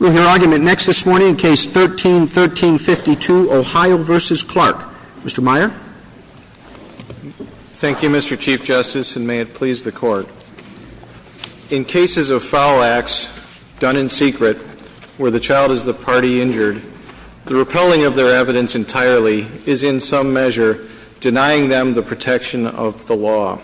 We'll hear argument next this morning in Case 13-1352, Ohio v. Clark. Mr. Meyer. Thank you, Mr. Chief Justice, and may it please the court. In cases of foul acts done in secret where the child is the party injured, the repelling of their evidence entirely is in some measure denying them the protection of the law.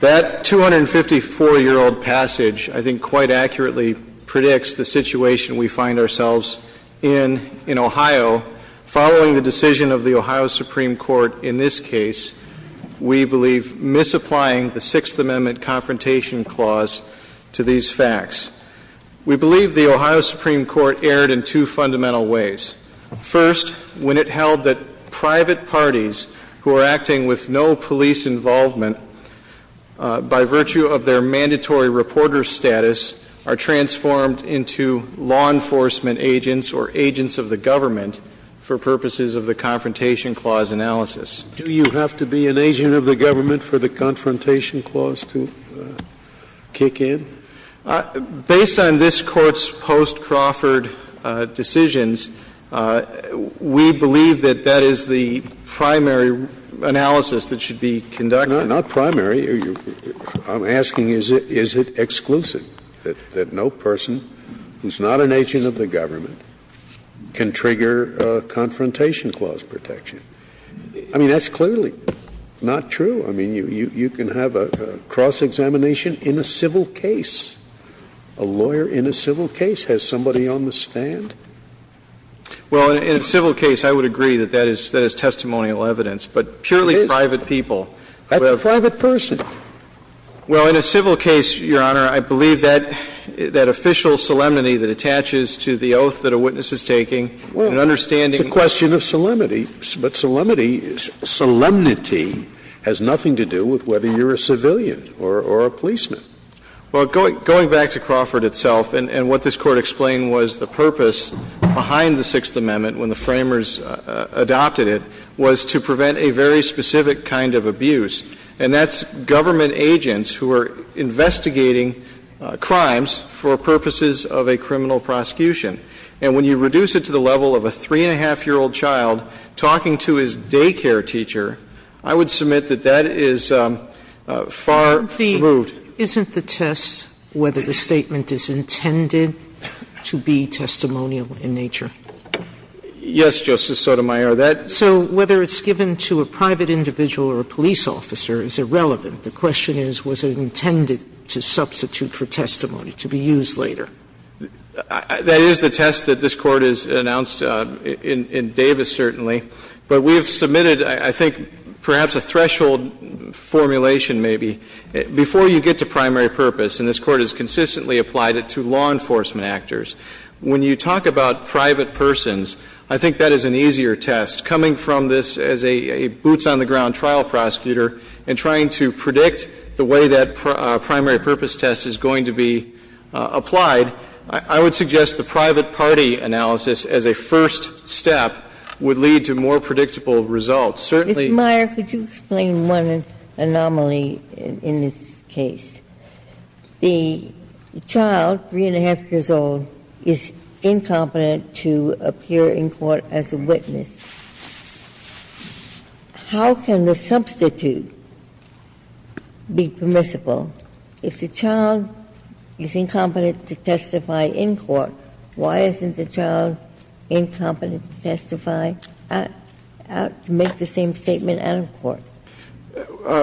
That 254-year-old passage, I think, quite accurately predicts the situation we find ourselves in in Ohio. Following the decision of the Ohio Supreme Court in this case, we believe misapplying the Sixth Amendment Confrontation Clause to these facts. We believe the Ohio Supreme Court erred in two fundamental ways. First, when it held that private parties who are acting with no police involvement by virtue of their mandatory reporter status are transformed into law enforcement agents or agents of the government for purposes of the Confrontation Clause analysis. Do you have to be an agent of the government for the Confrontation Clause to kick in? Based on this Court's post-Crawford decisions, we believe that that is the primary analysis that should be conducted. Not primary. I'm asking is it exclusive, that no person who's not an agent of the government can trigger a Confrontation Clause protection? I mean, that's clearly not true. I mean, you can have a cross-examination in a civil case. A lawyer in a civil case has somebody on the stand. Well, in a civil case, I would agree that that is testimonial evidence, but purely private people. That's a private person. Well, in a civil case, Your Honor, I believe that official solemnity that attaches to the oath that a witness is taking and understanding. Well, it's a question of solemnity. But solemnity has nothing to do with whether you're a civilian or a policeman. Well, going back to Crawford itself, and what this Court explained was the purpose behind the Sixth Amendment when the Framers adopted it was to prevent a very specific kind of abuse, and that's government agents who are investigating crimes for purposes of a criminal prosecution. And when you reduce it to the level of a 3-1⁄2-year-old child talking to his daycare teacher, I would submit that that is far removed. Isn't the test whether the statement is intended to be testimonial in nature? Yes, Justice Sotomayor. So whether it's given to a private individual or a police officer is irrelevant. The question is, was it intended to substitute for testimony, to be used later? That is the test that this Court has announced in Davis, certainly. But we have submitted, I think, perhaps a threshold formulation, maybe. Before you get to primary purpose, and this Court has consistently applied it to law enforcement actors, when you talk about private persons, I think that is an easier test, coming from this as a boots-on-the-ground trial prosecutor and trying to predict the way that primary purpose test is going to be applied. I would suggest the private party analysis as a first step would lead to more predictable results. Certainly the child, 3-1⁄2 years old, is incompetent to appear in court as a witness. How can the substitute be permissible? If the child is incompetent to testify in court, why isn't the child incompetent to testify out to make the same statement out of court?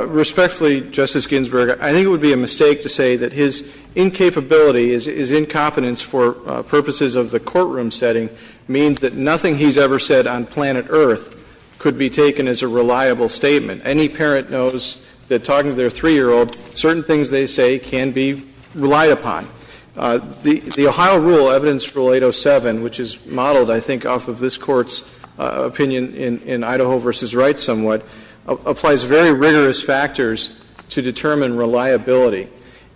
Respectfully, Justice Ginsburg, I think it would be a mistake to say that his incapability is incompetence for purposes of the courtroom setting means that nothing he's ever said on planet Earth could be taken as a reliable statement. Any parent knows that talking to their 3-year-old, certain things they say can be relied upon. The Ohio rule, Evidence Rule 807, which is modeled, I think, off of this Court's opinion in Idaho v. Wright somewhat, applies very rigorous factors to determine reliability.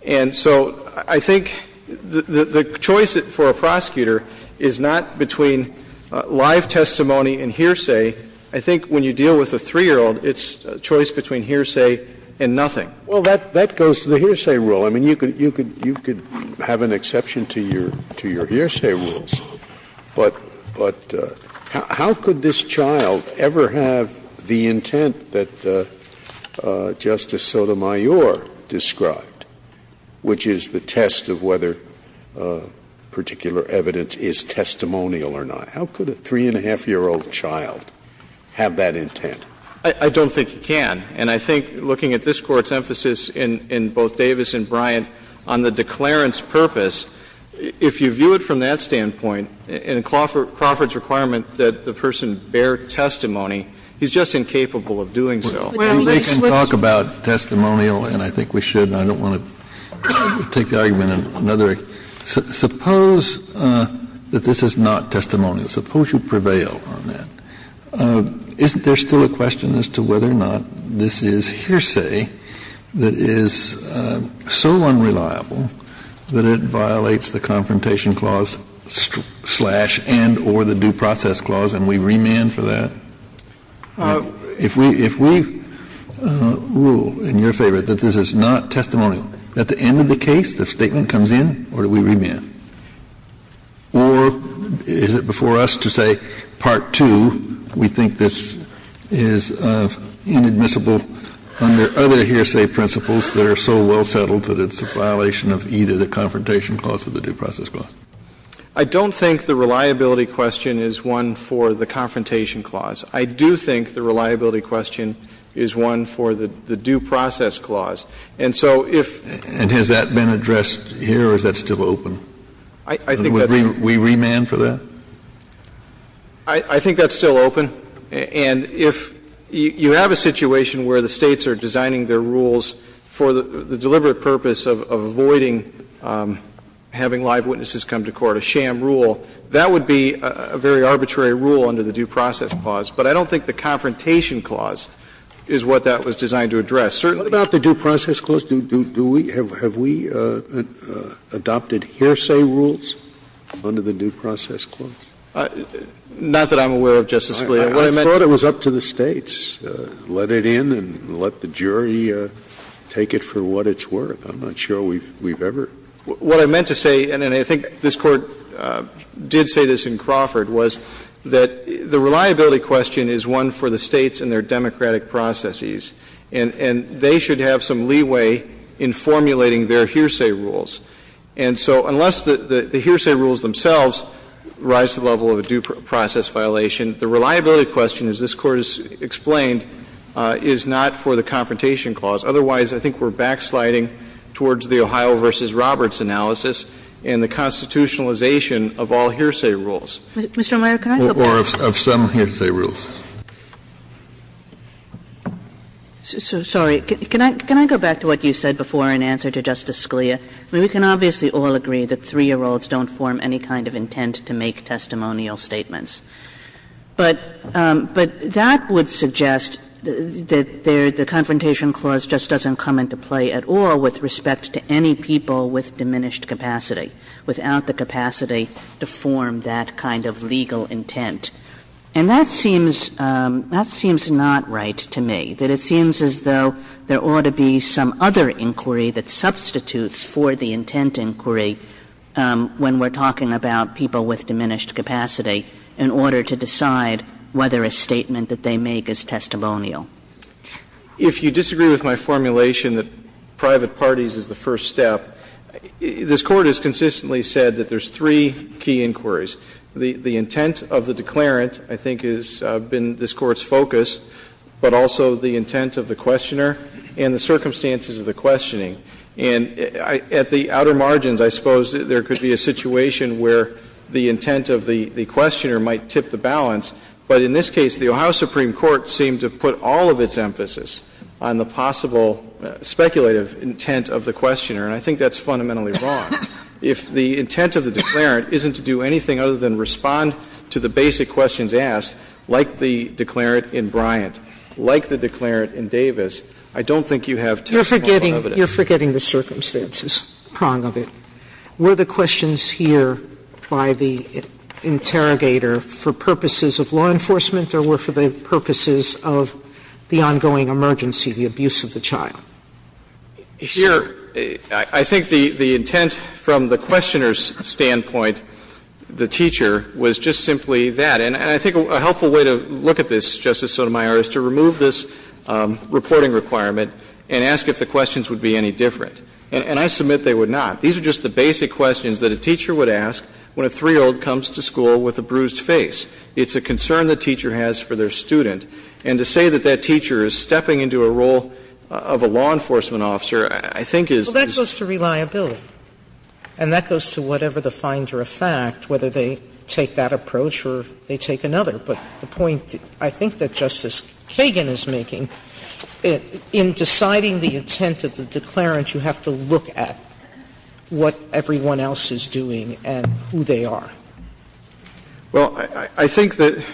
And so I think the choice for a prosecutor is not between live testimony and hearsay. I think when you deal with a 3-year-old, it's a choice between hearsay and nothing. Scalia. Well, that goes to the hearsay rule. I mean, you could have an exception to your hearsay rules. But how could this child ever have the intent that Justice Sotomayor described? Which is the test of whether particular evidence is testimonial or not. How could a 3-and-a-half-year-old child have that intent? I don't think he can. And I think looking at this Court's emphasis in both Davis and Bryant on the declarant's purpose, if you view it from that standpoint, and in Crawford's requirement that the person bear testimony, he's just incapable of doing so. Well, they can talk about testimonial, and I think we should. I don't want to take the argument in another regard. Suppose that this is not testimonial. Suppose you prevail on that. Isn't there still a question as to whether or not this is hearsay that is so unreliable that it violates the Confrontation Clause slash and or the Due Process Clause, and we remand for that? If we rule in your favor that this is not testimonial, at the end of the case, the statement comes in, or do we remand? Or is it before us to say, Part 2, we think this is inadmissible under other hearsay principles that are so well settled that it's a violation of either the Confrontation Clause or the Due Process Clause? I don't think the reliability question is one for the Confrontation Clause. I do think the reliability question is one for the Due Process Clause. And so if the And has that been addressed here or is that still open? I think that's And would we remand for that? I think that's still open. And if you have a situation where the States are designing their rules for the deliberate purpose of avoiding having live witnesses come to court, a sham rule, that would be a very arbitrary rule under the Due Process Clause. But I don't think the Confrontation Clause is what that was designed to address. Certainly What about the Due Process Clause? Do we do we have have we adopted hearsay rules under the Due Process Clause? Not that I'm aware of, Justice Scalia. I thought it was up to the States. Let it in and let the jury take it for what it's worth. I'm not sure we've ever What I meant to say, and I think this Court did say this in Crawford, was that the reliability question is one for the States and their democratic processes. And they should have some leeway in formulating their hearsay rules. And so unless the hearsay rules themselves rise to the level of a due process violation, the reliability question, as this Court has explained, is not for the Confrontation Clause. Otherwise, I think we're backsliding towards the Ohio v. Roberts analysis and the constitutionalization of all hearsay rules. Mr. Amaya, can I go back? Or of some hearsay rules. Sorry. Can I go back to what you said before in answer to Justice Scalia? I mean, we can obviously all agree that 3-year-olds don't form any kind of intent to make testimonial statements. But that would suggest that the Confrontation Clause just doesn't come into play at all with respect to any people with diminished capacity, without the capacity to form that kind of legal intent. And that seems not right to me, that it seems as though there ought to be some other inquiry that substitutes for the intent inquiry when we're talking about people with diminished capacity. In order to decide whether a statement that they make is testimonial. If you disagree with my formulation that private parties is the first step, this Court has consistently said that there's three key inquiries. The intent of the declarant, I think, has been this Court's focus, but also the intent of the questioner and the circumstances of the questioning. And at the outer margins, I suppose, there could be a situation where the intent of the questioner might tip the balance, but in this case, the Ohio Supreme Court seemed to put all of its emphasis on the possible speculative intent of the questioner, and I think that's fundamentally wrong. If the intent of the declarant isn't to do anything other than respond to the basic questions asked, like the declarant in Bryant, like the declarant in Davis, I don't think you have testimonial evidence. Sotomayor, you're forgetting the circumstances, the prong of it. Were the questions here by the interrogator for purposes of law enforcement or were for the purposes of the ongoing emergency, the abuse of the child? Here, I think the intent from the questioner's standpoint, the teacher, was just simply that. And I think a helpful way to look at this, Justice Sotomayor, is to remove this reporting requirement and ask if the questions would be any different. And I submit they would not. These are just the basic questions that a teacher would ask when a 3-year-old comes to school with a bruised face. It's a concern the teacher has for their student. And to say that that teacher is stepping into a role of a law enforcement officer, I think is just as bad. Sotomayor, that goes to reliability, and that goes to whatever the finder of fact, whether they take that approach or they take another. But the point I think that Justice Kagan is making, in deciding the intent of the declarant, you have to look at what everyone else is doing and who they are. Well, I think that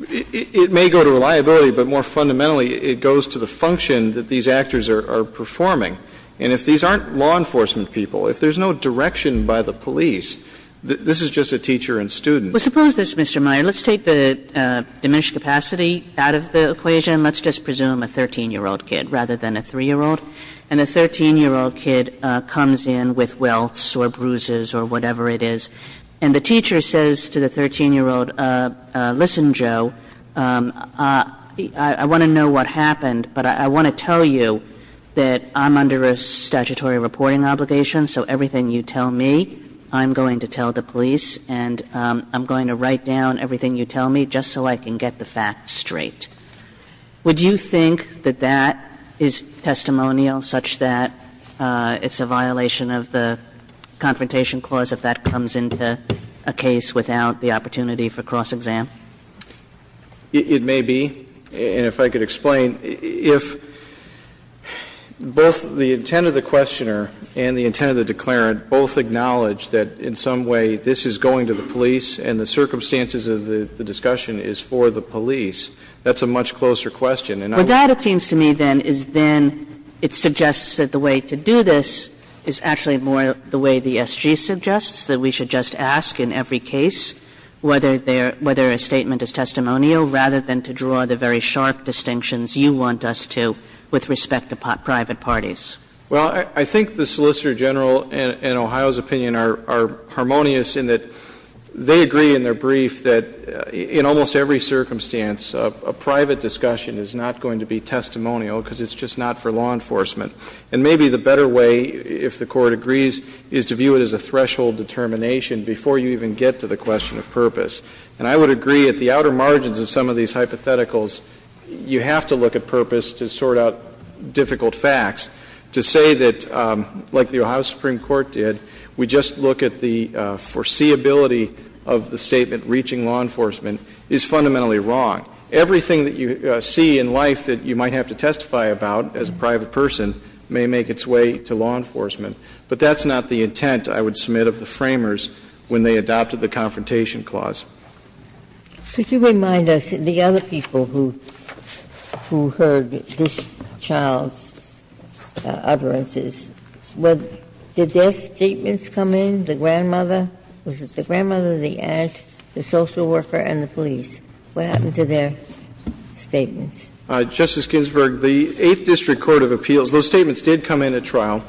it may go to reliability, but more fundamentally, it goes to the function that these actors are performing. And if these aren't law enforcement people, if there's no direction by the police, this is just a teacher and student. Well, suppose this, Mr. Meyer. Let's take the diminished capacity out of the equation. Let's just presume a 13-year-old kid rather than a 3-year-old. And a 13-year-old kid comes in with welts or bruises or whatever it is, and the teacher says to the 13-year-old, listen, Joe, I want to know what happened, but I want to tell you that I'm under a statutory reporting obligation, so everything you tell me, I'm going to tell the police, and I'm going to write down everything you tell me just so I can get the facts straight. Would you think that that is testimonial such that it's a violation of the Confrontation Clause if that comes into a case without the opportunity for cross-exam? It may be. And if I could explain, if both the intent of the questioner and the intent of the questioner is that in some way this is going to the police and the circumstances of the discussion is for the police, that's a much closer question. And I would think that's a much closer question. Kagan. But that, it seems to me, then, is then it suggests that the way to do this is actually more the way the SG suggests, that we should just ask in every case whether a statement is testimonial rather than to draw the very sharp distinctions you want us to with respect to private parties. Well, I think the Solicitor General and Ohio's opinion are harmonious in that they agree in their brief that in almost every circumstance, a private discussion is not going to be testimonial because it's just not for law enforcement. And maybe the better way, if the Court agrees, is to view it as a threshold determination before you even get to the question of purpose. And I would agree at the outer margins of some of these hypotheticals, you have to look at purpose to sort out difficult facts, to say that, like the Ohio Supreme Court did, we just look at the foreseeability of the statement reaching law enforcement is fundamentally wrong. Everything that you see in life that you might have to testify about as a private person may make its way to law enforcement, but that's not the intent, I would submit, of the framers when they adopted the Confrontation Clause. Ginsburg. Could you remind us, the other people who heard this child's utterances, did their statements come in, the grandmother? Was it the grandmother, the aunt, the social worker, and the police? What happened to their statements? Justice Ginsburg, the Eighth District Court of Appeals, those statements did come in at trial.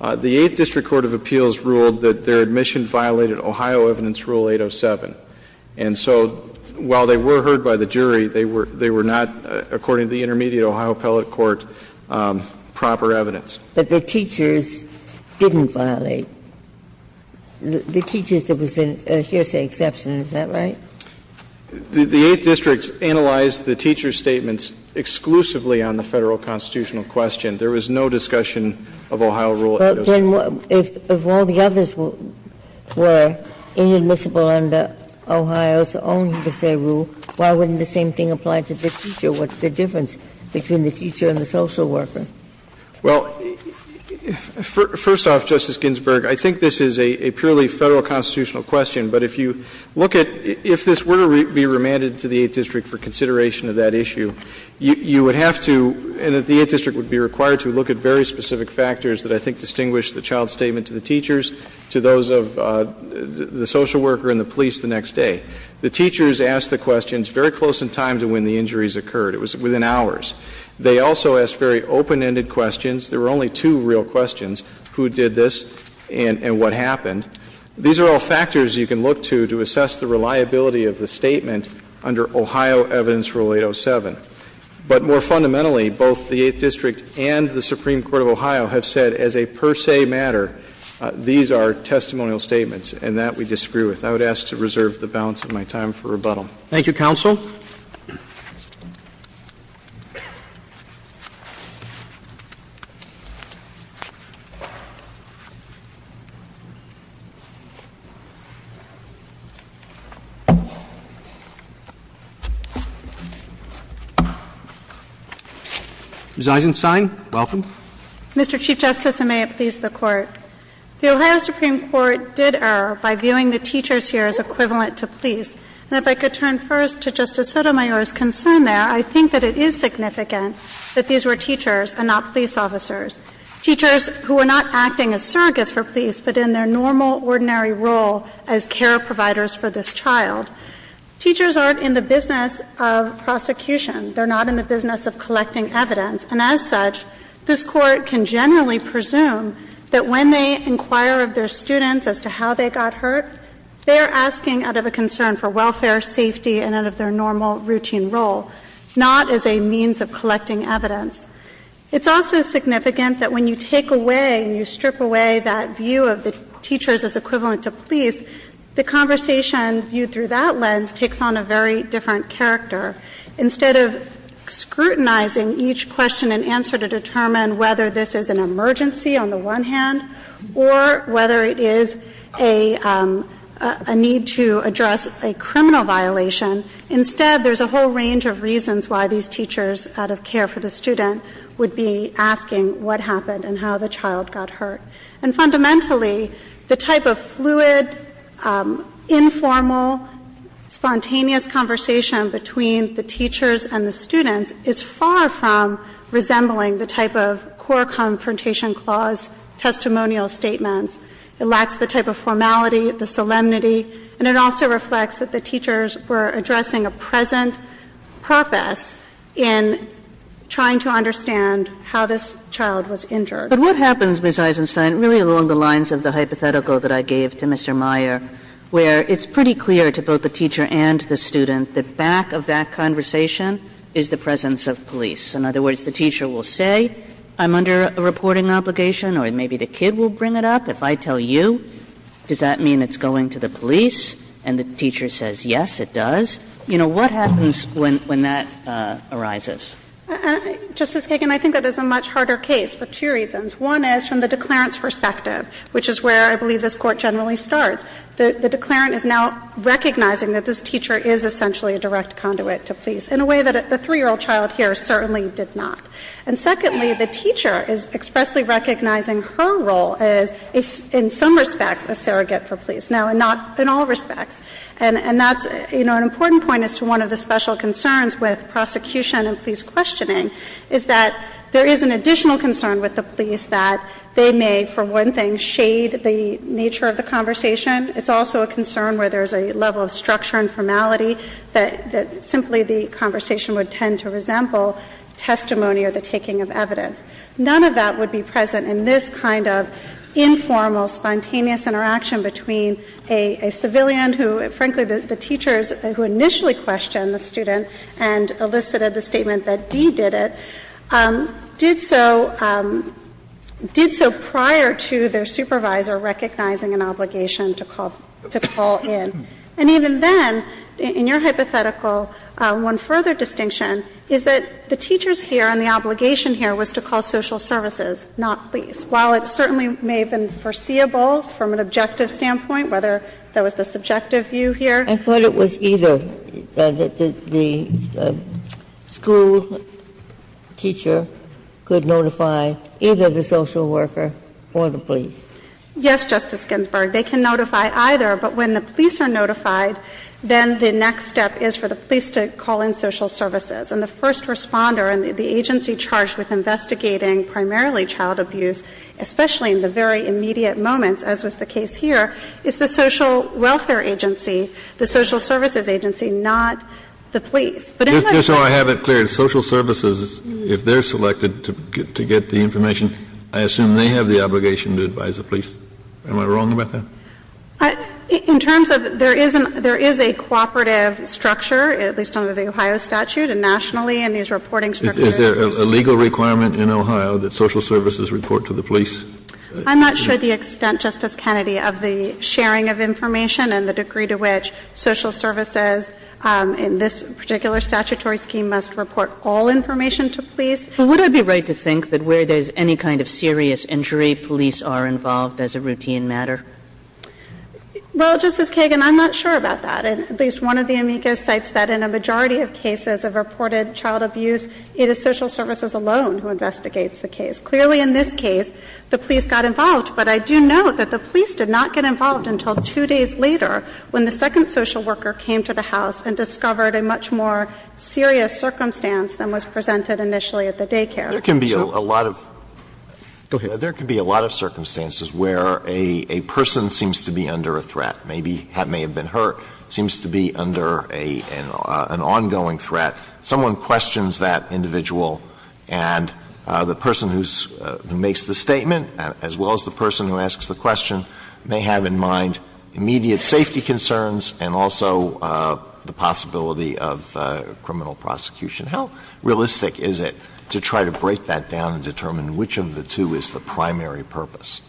The Eighth District Court of Appeals ruled that their admission violated Ohio Evidence Rule 807. And so while they were heard by the jury, they were not, according to the intermediate Ohio appellate court, proper evidence. But the teachers didn't violate. The teachers, there was a hearsay exception. Is that right? The Eighth District analyzed the teachers' statements exclusively on the Federal constitutional question. There was no discussion of Ohio Rule 807. Ginsburg. Well, then, if all the others were inadmissible under Ohio's own hearsay rule, why wouldn't the same thing apply to the teacher? What's the difference between the teacher and the social worker? Well, first off, Justice Ginsburg, I think this is a purely Federal constitutional question. But if you look at – if this were to be remanded to the Eighth District for consideration of that issue, you would have to, and the Eighth District would be required to, look at very specific factors that I think distinguish the child's statement to the teachers, to those of the social worker and the police the next day. The teachers asked the questions very close in time to when the injuries occurred. It was within hours. They also asked very open-ended questions. There were only two real questions, who did this and what happened. These are all factors you can look to to assess the reliability of the statement under Ohio Evidence Rule 807. But more fundamentally, both the Eighth District and the Supreme Court of Ohio have said as a per se matter, these are testimonial statements, and that we disagree with. I would ask to reserve the balance of my time for rebuttal. Thank you, Counsel. Ms. Eisenstein, welcome. Mr. Chief Justice, and may it please the Court. The Ohio Supreme Court did err by viewing the teachers here as equivalent to police. And if I could turn first to Justice Sotomayor's concern there, I think that it is significant that these were teachers and not police officers, teachers who were not acting as surrogates for police, but in their normal, ordinary role as care providers for this child. Teachers aren't in the business of prosecution. They're not in the business of collecting evidence. And as such, this Court can generally presume that when they inquire of their students as to how they got hurt, they are asking out of a concern for welfare, safety, and out of their normal, routine role, not as a means of collecting evidence. It's also significant that when you take away and you strip away that view of the teachers as equivalent to police, the conversation viewed through that lens takes on a very different character. Instead of scrutinizing each question and answer to determine whether this is an emergency on the one hand or whether it is a need to address a criminal violation, instead, there's a whole range of reasons why these teachers, out of care for the student, would be asking what happened and how the child got hurt. And fundamentally, the type of fluid, informal, spontaneous conversation between the teachers and the students is far from resembling the type of core confrontation clause testimonial statements. It lacks the type of formality, the solemnity, and it also reflects that the teachers were addressing a present purpose in trying to understand how this child was injured. But what happens, Ms. Eisenstein, really along the lines of the hypothetical that I gave to Mr. Meyer, where it's pretty clear to both the teacher and the student that back of that conversation is the presence of police? In other words, the teacher will say, I'm under a reporting obligation, or maybe the kid will bring it up. If I tell you, does that mean it's going to the police? And the teacher says, yes, it does. You know, what happens when that arises? Eisenstein, Justice Kagan, I think that is a much harder case for two reasons. One is, from the declarant's perspective, which is where I believe this Court generally starts, the declarant is now recognizing that this teacher is essentially a direct conduit to police in a way that the 3-year-old child here certainly did not. And secondly, the teacher is expressly recognizing her role as, in some respects, a surrogate for police. Now, not in all respects. And that's, you know, an important point as to one of the special concerns with prosecution and police questioning, is that there is an additional concern with the police that they may, for one thing, shade the nature of the conversation. It's also a concern where there's a level of structure and formality that simply the conversation would tend to resemble testimony or the taking of evidence. None of that would be present in this kind of informal, spontaneous interaction between a civilian who, frankly, the teachers who initially questioned the student and elicited the statement that Dee did it, did so prior to their supervisor recognizing an obligation to call in. And even then, in your hypothetical, one further distinction is that the teachers here and the obligation here was to call social services, not police. While it certainly may have been foreseeable from an objective standpoint, whether there was the subjective view here. Ginsburg. I thought it was either that the school teacher could notify either the social worker or the police. Yes, Justice Ginsburg. They can notify either. But when the police are notified, then the next step is for the police to call in social services. And the first responder and the agency charged with investigating primarily child abuse, especially in the very immediate moments, as was the case here, is the welfare agency, the social services agency, not the police. Kennedy. Just so I have it clear, social services, if they're selected to get the information, I assume they have the obligation to advise the police. Am I wrong about that? In terms of there is a cooperative structure, at least under the Ohio statute, and nationally in these reporting structures. Is there a legal requirement in Ohio that social services report to the police? I'm not sure the extent, Justice Kennedy, of the sharing of information and the degree to which social services in this particular statutory scheme must report all information to police. But would I be right to think that where there's any kind of serious injury, police are involved as a routine matter? Well, Justice Kagan, I'm not sure about that. At least one of the amicus cites that in a majority of cases of reported child abuse, it is social services alone who investigates the case. Clearly in this case, the police got involved. But I do note that the police did not get involved until two days later, when the second social worker came to the house and discovered a much more serious circumstance than was presented initially at the daycare. Alito There can be a lot of circumstances where a person seems to be under a threat. Maybe that may have been hurt. Seems to be under an ongoing threat. Someone questions that individual. And the person who makes the statement, as well as the person who asks the question, may have in mind immediate safety concerns and also the possibility of criminal prosecution. How realistic is it to try to break that down and determine which of the two is the primary purpose?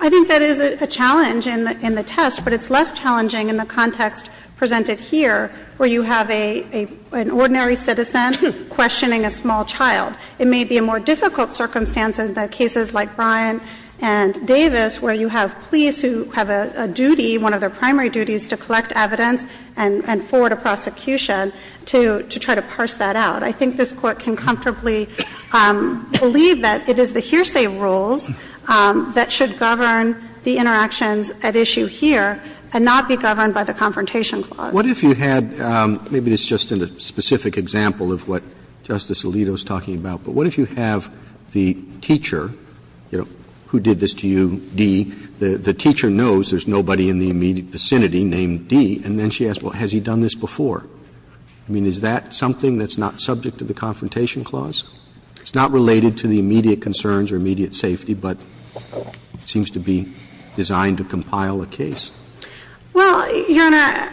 I think that is a challenge in the test, but it's less challenging in the context presented here, where you have an ordinary citizen questioning a small child. It may be a more difficult circumstance in the cases like Brian and Davis, where you have police who have a duty, one of their primary duties, to collect evidence and forward a prosecution to try to parse that out. I think this Court can comfortably believe that it is the hearsay rules that should govern the interactions at issue here and not be governed by the Confrontation Clause. Roberts What if you had, maybe this is just a specific example of what Justice Alito is talking about, but what if you have the teacher, you know, who did this to you, D, the teacher knows there's nobody in the immediate vicinity named D, and then she asks, well, has he done this before? I mean, is that something that's not subject to the Confrontation Clause? It's not related to the immediate concerns or immediate safety, but it seems to be designed to compile a case. Well, Your Honor,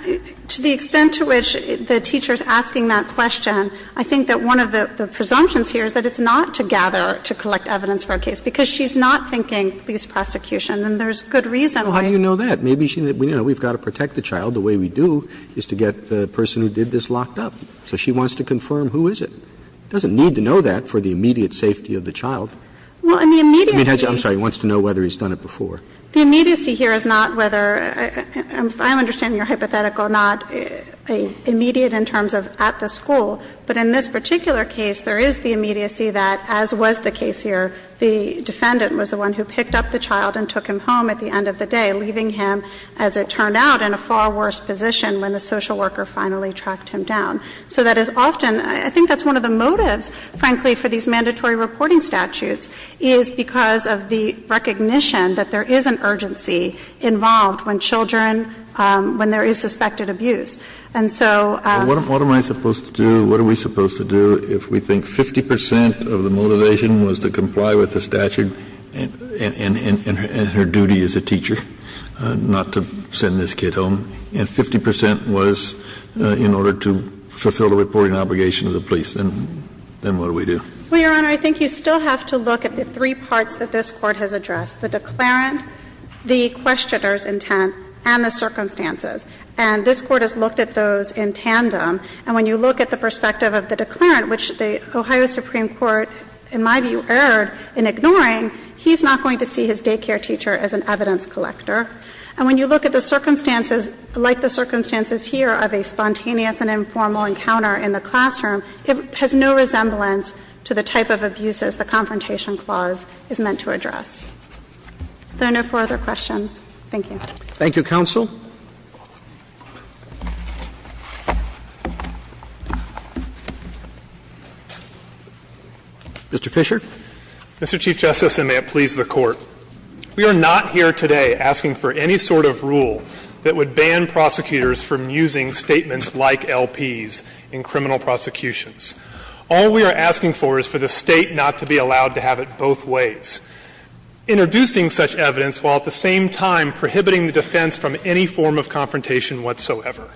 to the extent to which the teacher is asking that question, I think that one of the presumptions here is that it's not to gather, to collect evidence for a case, because she's not thinking police prosecution, and there's good reason why. Well, how do you know that? Maybe she, you know, we've got to protect the child. The way we do is to get the person who did this locked up. So she wants to confirm who is it. She doesn't need to know that for the immediate safety of the child. I mean, I'm sorry. He wants to know whether he's done it before. The immediacy here is not whether — I understand your hypothetical, not immediate in terms of at the school, but in this particular case, there is the immediacy that, as was the case here, the defendant was the one who picked up the child and took him home at the end of the day, leaving him, as it turned out, in a far worse position when the social worker finally tracked him down. So that is often — I think that's one of the motives, frankly, for these mandatory reporting statutes, is because of the recognition that there is an urgency involved when children — when there is suspected abuse. And so — Kennedy, what am I supposed to do, what are we supposed to do, if we think 50 percent of the motivation was to comply with the statute and her duty as a teacher, not to send this kid home, and 50 percent was in order to fulfill the reporting obligation of the police, then what do we do? Well, Your Honor, I think you still have to look at the three parts that this Court has addressed, the declarant, the questioner's intent, and the circumstances. And this Court has looked at those in tandem. And when you look at the perspective of the declarant, which the Ohio Supreme Court, in my view, erred in ignoring, he's not going to see his daycare teacher as an evidence collector. And when you look at the circumstances, like the circumstances here of a spontaneous and informal encounter in the classroom, it has no resemblance to the type of abuses the Confrontation Clause is meant to address. Are there no further questions? Thank you. Thank you, counsel. Mr. Fisher. Mr. Chief Justice, and may it please the Court. We are not here today asking for any sort of rule that would ban prosecutors from using statements like LPs in criminal prosecutions. All we are asking for is for the State not to be allowed to have it both ways, introducing such evidence while at the same time prohibiting the defense from any form of confrontation whatsoever.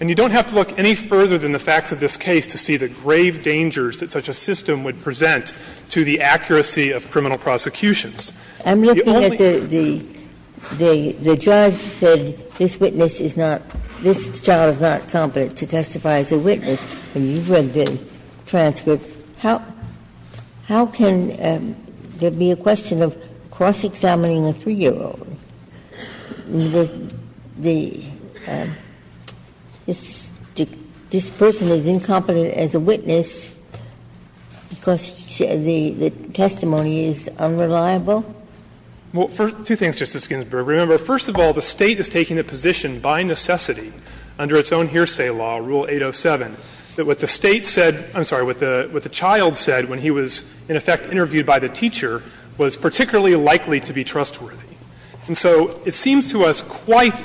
And you don't have to look any further than the facts of this case to see the grave dangers that such a system would present to the accuracy of criminal prosecutions. I'm looking at the judge said this witness is not, this child is not competent to testify as a witness. And you've read the transcript. How can there be a question of cross-examining a 3-year-old? This person is incompetent as a witness because the testimony is unreliable? Well, two things, Justice Ginsburg. Remember, first of all, the State is taking a position by necessity under its own hearsay law, Rule 807, that what the State said, I'm sorry, what the child said when he was in effect interviewed by the teacher was particularly likely to be trustworthy. And so it seems to us quite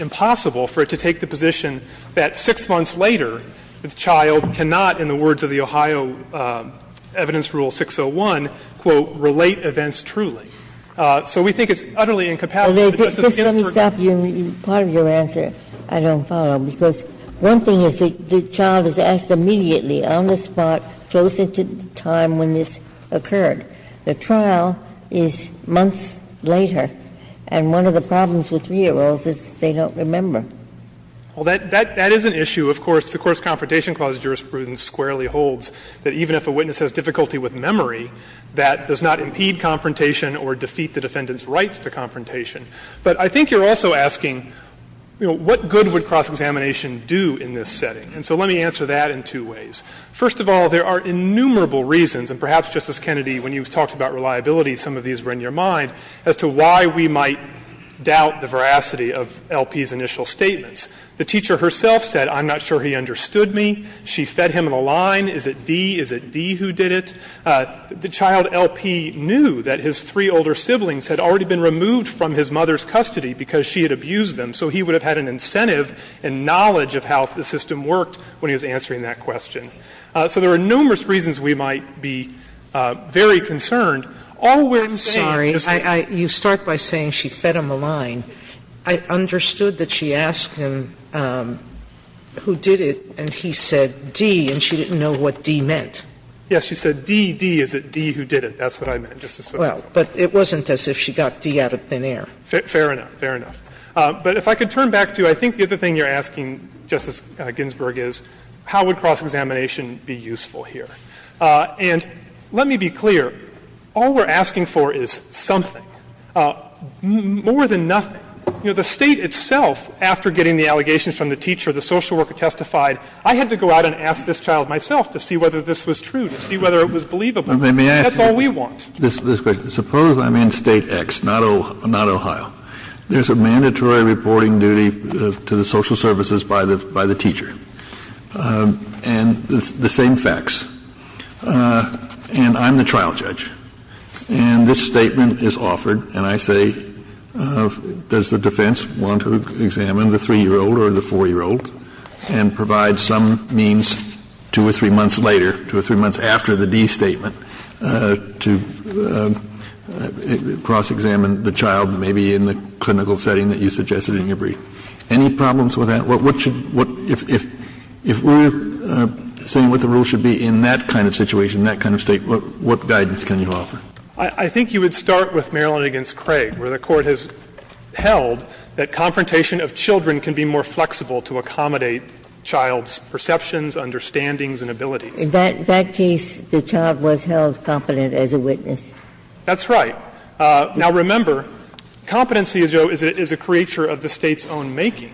impossible for it to take the position that 6 months later the child cannot, in the words of the Ohio Evidence Rule 601, quote, relate to events truly. So we think it's utterly incompatible, Justice Ginsburg. Ginsburg. Just let me stop you, part of your answer I don't follow, because one thing is the child is asked immediately on the spot, close in to the time when this occurred. The trial is months later, and one of the problems with 3-year-olds is they don't remember. Well, that is an issue. Of course, the Course Confrontation Clause jurisprudence squarely holds that even if a witness has difficulty with memory, that does not impede confrontation or defeat the defendant's rights to confrontation. But I think you're also asking, you know, what good would cross-examination do in this setting? And so let me answer that in two ways. First of all, there are innumerable reasons, and perhaps, Justice Kennedy, when you talked about reliability, some of these were in your mind, as to why we might doubt the veracity of LP's initial statements. The teacher herself said, I'm not sure he understood me. She fed him in a line. Is it D? Is it D who did it? The child LP knew that his three older siblings had already been removed from his mother's custody because she had abused them. So he would have had an incentive and knowledge of how the system worked when he was answering that question. So there are numerous reasons we might be very concerned. All we're saying is that you fed him a line. I understood that she asked him who did it, and he said D, and she didn't know what D meant. Yes, she said D, D. Is it D who did it? That's what I meant, Justice Sotomayor. Well, but it wasn't as if she got D out of thin air. Fair enough. Fair enough. But if I could turn back to, I think, the other thing you're asking, Justice Ginsburg, is how would cross-examination be useful here? And let me be clear. All we're asking for is something, more than nothing. You know, the State itself, after getting the allegations from the teacher, the social And I'm going to have to ask my ex-child myself to see whether this was true, to see whether it was believable. That's all we want. Let me ask you this question. Suppose I'm in State X, not Ohio. There's a mandatory reporting duty to the social services by the teacher, and it's the same facts. And I'm the trial judge. And this statement is offered, and I say, does the defense want to examine the 3-year-old or the 4-year-old and provide some means two or three months later, two or three months after the D statement, to cross-examine the child, maybe in the clinical setting that you suggested in your brief? Any problems with that? If we're saying what the rules should be in that kind of situation, in that kind of State, what guidance can you offer? I think you would start with Maryland v. Craig, where the Court has held that confrontation of children can be more flexible to accommodate child's perceptions, understandings, and abilities. In that case, the child was held competent as a witness. That's right. Now, remember, competency is a creature of the State's own making.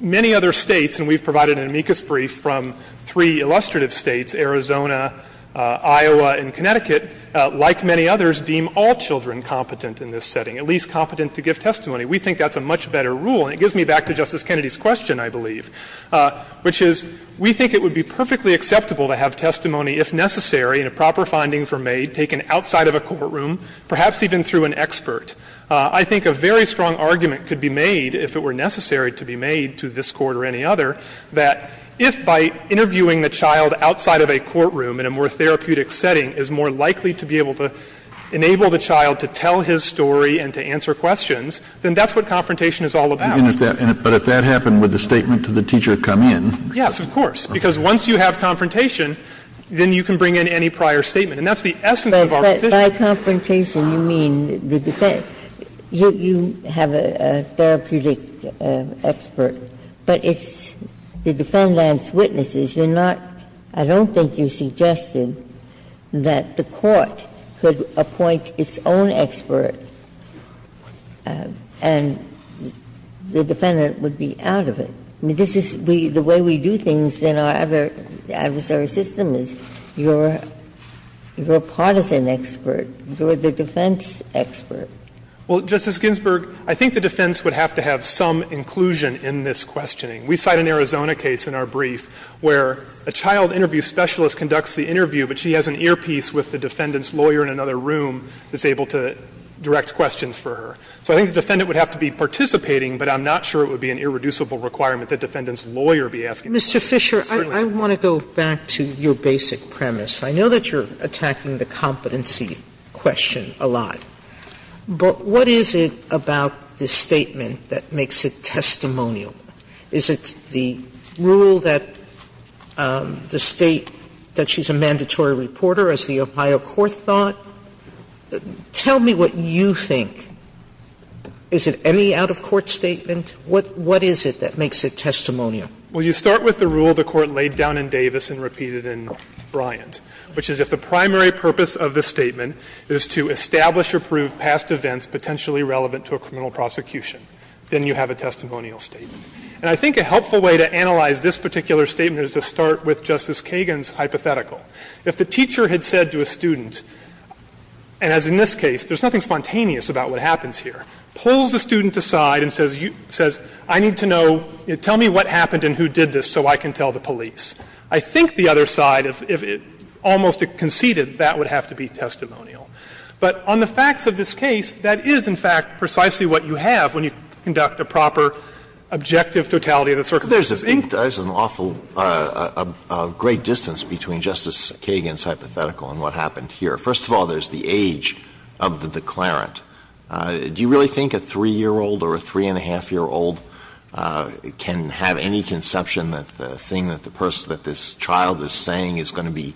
Many other States, and we've provided an amicus brief from three illustrative States, Arizona, Iowa, and Connecticut, like many others, deem all children competent in this setting, at least competent to give testimony. We think that's a much better rule, and it gives me back to Justice Kennedy's question, I believe, which is we think it would be perfectly acceptable to have testimony, if necessary, in a proper finding for maid taken outside of a courtroom, perhaps even through an expert. I think a very strong argument could be made, if it were necessary to be made to this Court or any other, that if by interviewing the child outside of a courtroom in a more therapeutic setting is more likely to be able to enable the child to tell his story and to answer questions, then that's what confrontation is all about. But if that happened, would the statement to the teacher come in? Yes, of course, because once you have confrontation, then you can bring in any prior statement. And that's the essence of our position. Ginsburg. But by confrontation, you mean the defense you have a therapeutic expert, but it's the defendant's witnesses. You're not – I don't think you suggested that the Court could appoint its own expert and the defendant would be out of it. I mean, this is the way we do things in our adversary system, is you're a partisan expert, you're the defense expert. Well, Justice Ginsburg, I think the defense would have to have some inclusion in this questioning. We cite an Arizona case in our brief where a child interview specialist conducts the interview, but she has an earpiece with the defendant's lawyer in another room that's able to direct questions for her. So I think the defendant would have to be participating, but I'm not sure it would be an irreducible requirement that the defendant's lawyer be asking questions. Mr. Fisher, I want to go back to your basic premise. I know that you're attacking the competency question a lot, but what is it about this statement that makes it testimonial? Is it the rule that the State – that she's a mandatory reporter, as the Ohio court thought? Tell me what you think. Is it any out-of-court statement? What is it that makes it testimonial? Fisher, Well, you start with the rule the Court laid down in Davis and repeated in Bryant, which is if the primary purpose of the statement is to establish or prove past events potentially relevant to a criminal prosecution, then you have a testimonial statement. And I think a helpful way to analyze this particular statement is to start with Justice Kagan's hypothetical. If the teacher had said to a student, and as in this case, there's nothing spontaneous about what happens here, pulls the student aside and says, I need to know, tell me what happened and who did this so I can tell the police. I think the other side, if it almost conceded, that would have to be testimonial. But on the facts of this case, that is, in fact, precisely what you have when you conduct a proper objective totality of the circumstances. Alito There's an awful – a great distance between Justice Kagan's hypothetical and what happened here. First of all, there's the age of the declarant. Do you really think a 3-year-old or a 3-and-a-half-year-old can have any conception that the thing that the person, that this child is saying is going to be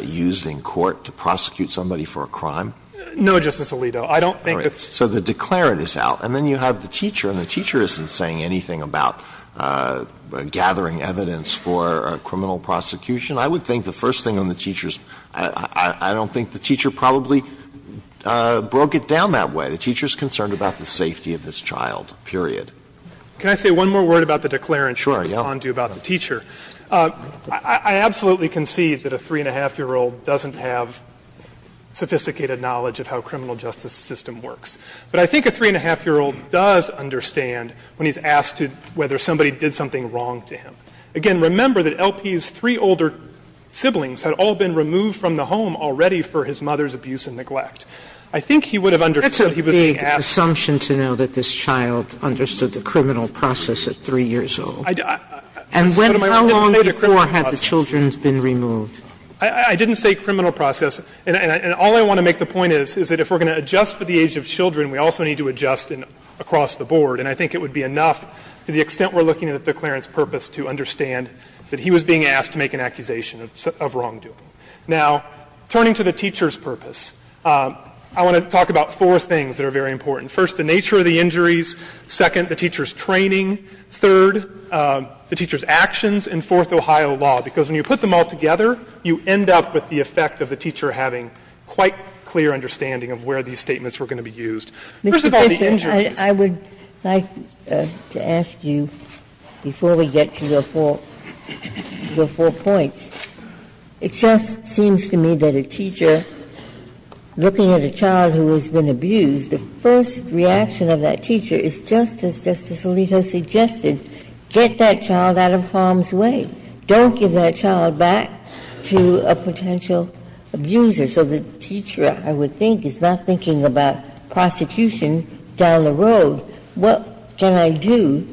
used in court to prosecute somebody for a crime? Fisher No, Justice Alito. I don't think it's – Alito So the declarant is out. And then you have the teacher, and the teacher isn't saying anything about gathering evidence for a criminal prosecution. I would think the first thing on the teacher's – I don't think the teacher probably broke it down that way. The teacher is concerned about the safety of this child, period. Fisher Can I say one more word about the declarant? Alito Sure, yeah. Fisher I'll respond to you about the teacher. I absolutely concede that a 3-and-a-half-year-old doesn't have sophisticated knowledge of how the criminal justice system works. But I think a 3-and-a-half-year-old does understand when he's asked whether somebody did something wrong to him. Again, remember that L.P.'s three older siblings had all been removed from the home already for his mother's abuse and neglect. I think he would have understood he was being asked – Sotomayor That's a big assumption to know that this child understood the criminal process at 3 years old. Fisher I – Sotomayor And when – how long before had the children's been removed? Fisher I didn't say criminal process. And all I want to make the point is, is that if we're going to adjust for the age of children, we also need to adjust across the board. And I think it would be enough, to the extent we're looking at the declarant's purpose, to understand that he was being asked to make an accusation of wrongdoing. Now, turning to the teacher's purpose, I want to talk about four things that are very important. First, the nature of the injuries. Second, the teacher's training. Third, the teacher's actions. And fourth, Ohio law, because when you put them all together, you end up with the effect of the teacher having quite clear understanding of where these statements were going to be used. First of all, the injuries. Ginsburg I would like to ask you, before we get to your four points, it just seems to me that a teacher looking at a child who has been abused, the first reaction of that teacher is just as Justice Alito suggested, get that child out of harm's way. Don't give that child back to a potential abuser. So the teacher, I would think, is not thinking about prosecution down the road. What can I do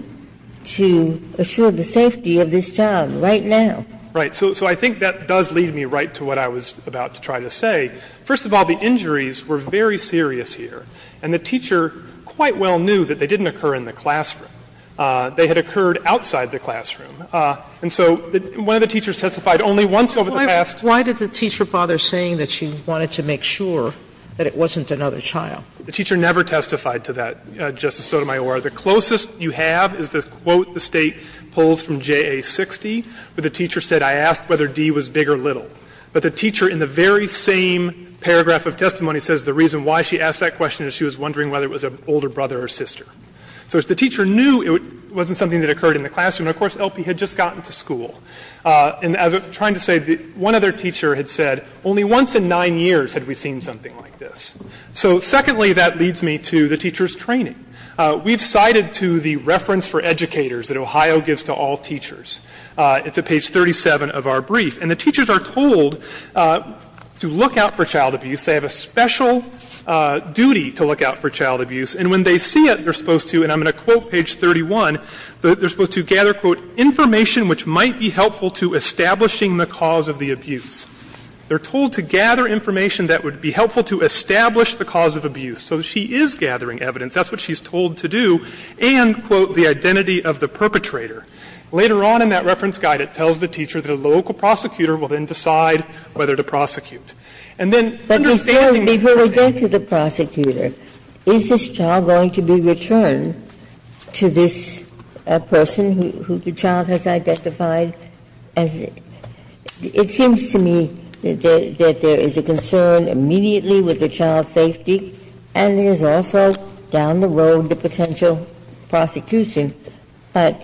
to assure the safety of this child right now? Fisher Right. So I think that does lead me right to what I was about to try to say. First of all, the injuries were very serious here. And the teacher quite well knew that they didn't occur in the classroom. They had occurred outside the classroom. And so one of the teachers testified only once over the past year. Sotomayor Why did the teacher bother saying that she wanted to make sure that it wasn't another child? Fisher The teacher never testified to that, Justice Sotomayor. The closest you have is the quote the State pulls from JA 60, where the teacher said, I asked whether D was big or little. But the teacher in the very same paragraph of testimony says the reason why she asked that question is she was wondering whether it was an older brother or sister. So if the teacher knew it wasn't something that occurred in the classroom, of course, LP had just gotten to school. And as I'm trying to say, one other teacher had said, only once in nine years had we seen something like this. So secondly, that leads me to the teacher's training. We've cited to the reference for educators that Ohio gives to all teachers. It's at page 37 of our brief. And the teachers are told to look out for child abuse. They have a special duty to look out for child abuse. And when they see it, they're supposed to, and I'm going to quote page 31, they're supposed to gather, quote, information which might be helpful to establishing the cause of the abuse. They're told to gather information that would be helpful to establish the cause of abuse. So she is gathering evidence. That's what she's told to do. And, quote, the identity of the perpetrator. Later on in that reference guide, it tells the teacher that a local prosecutor will then decide whether to prosecute. And then understanding the perpetrator. Ginsburg. Is this child going to be returned to this person who the child has identified as? It seems to me that there is a concern immediately with the child's safety, and there is also down the road the potential prosecution. But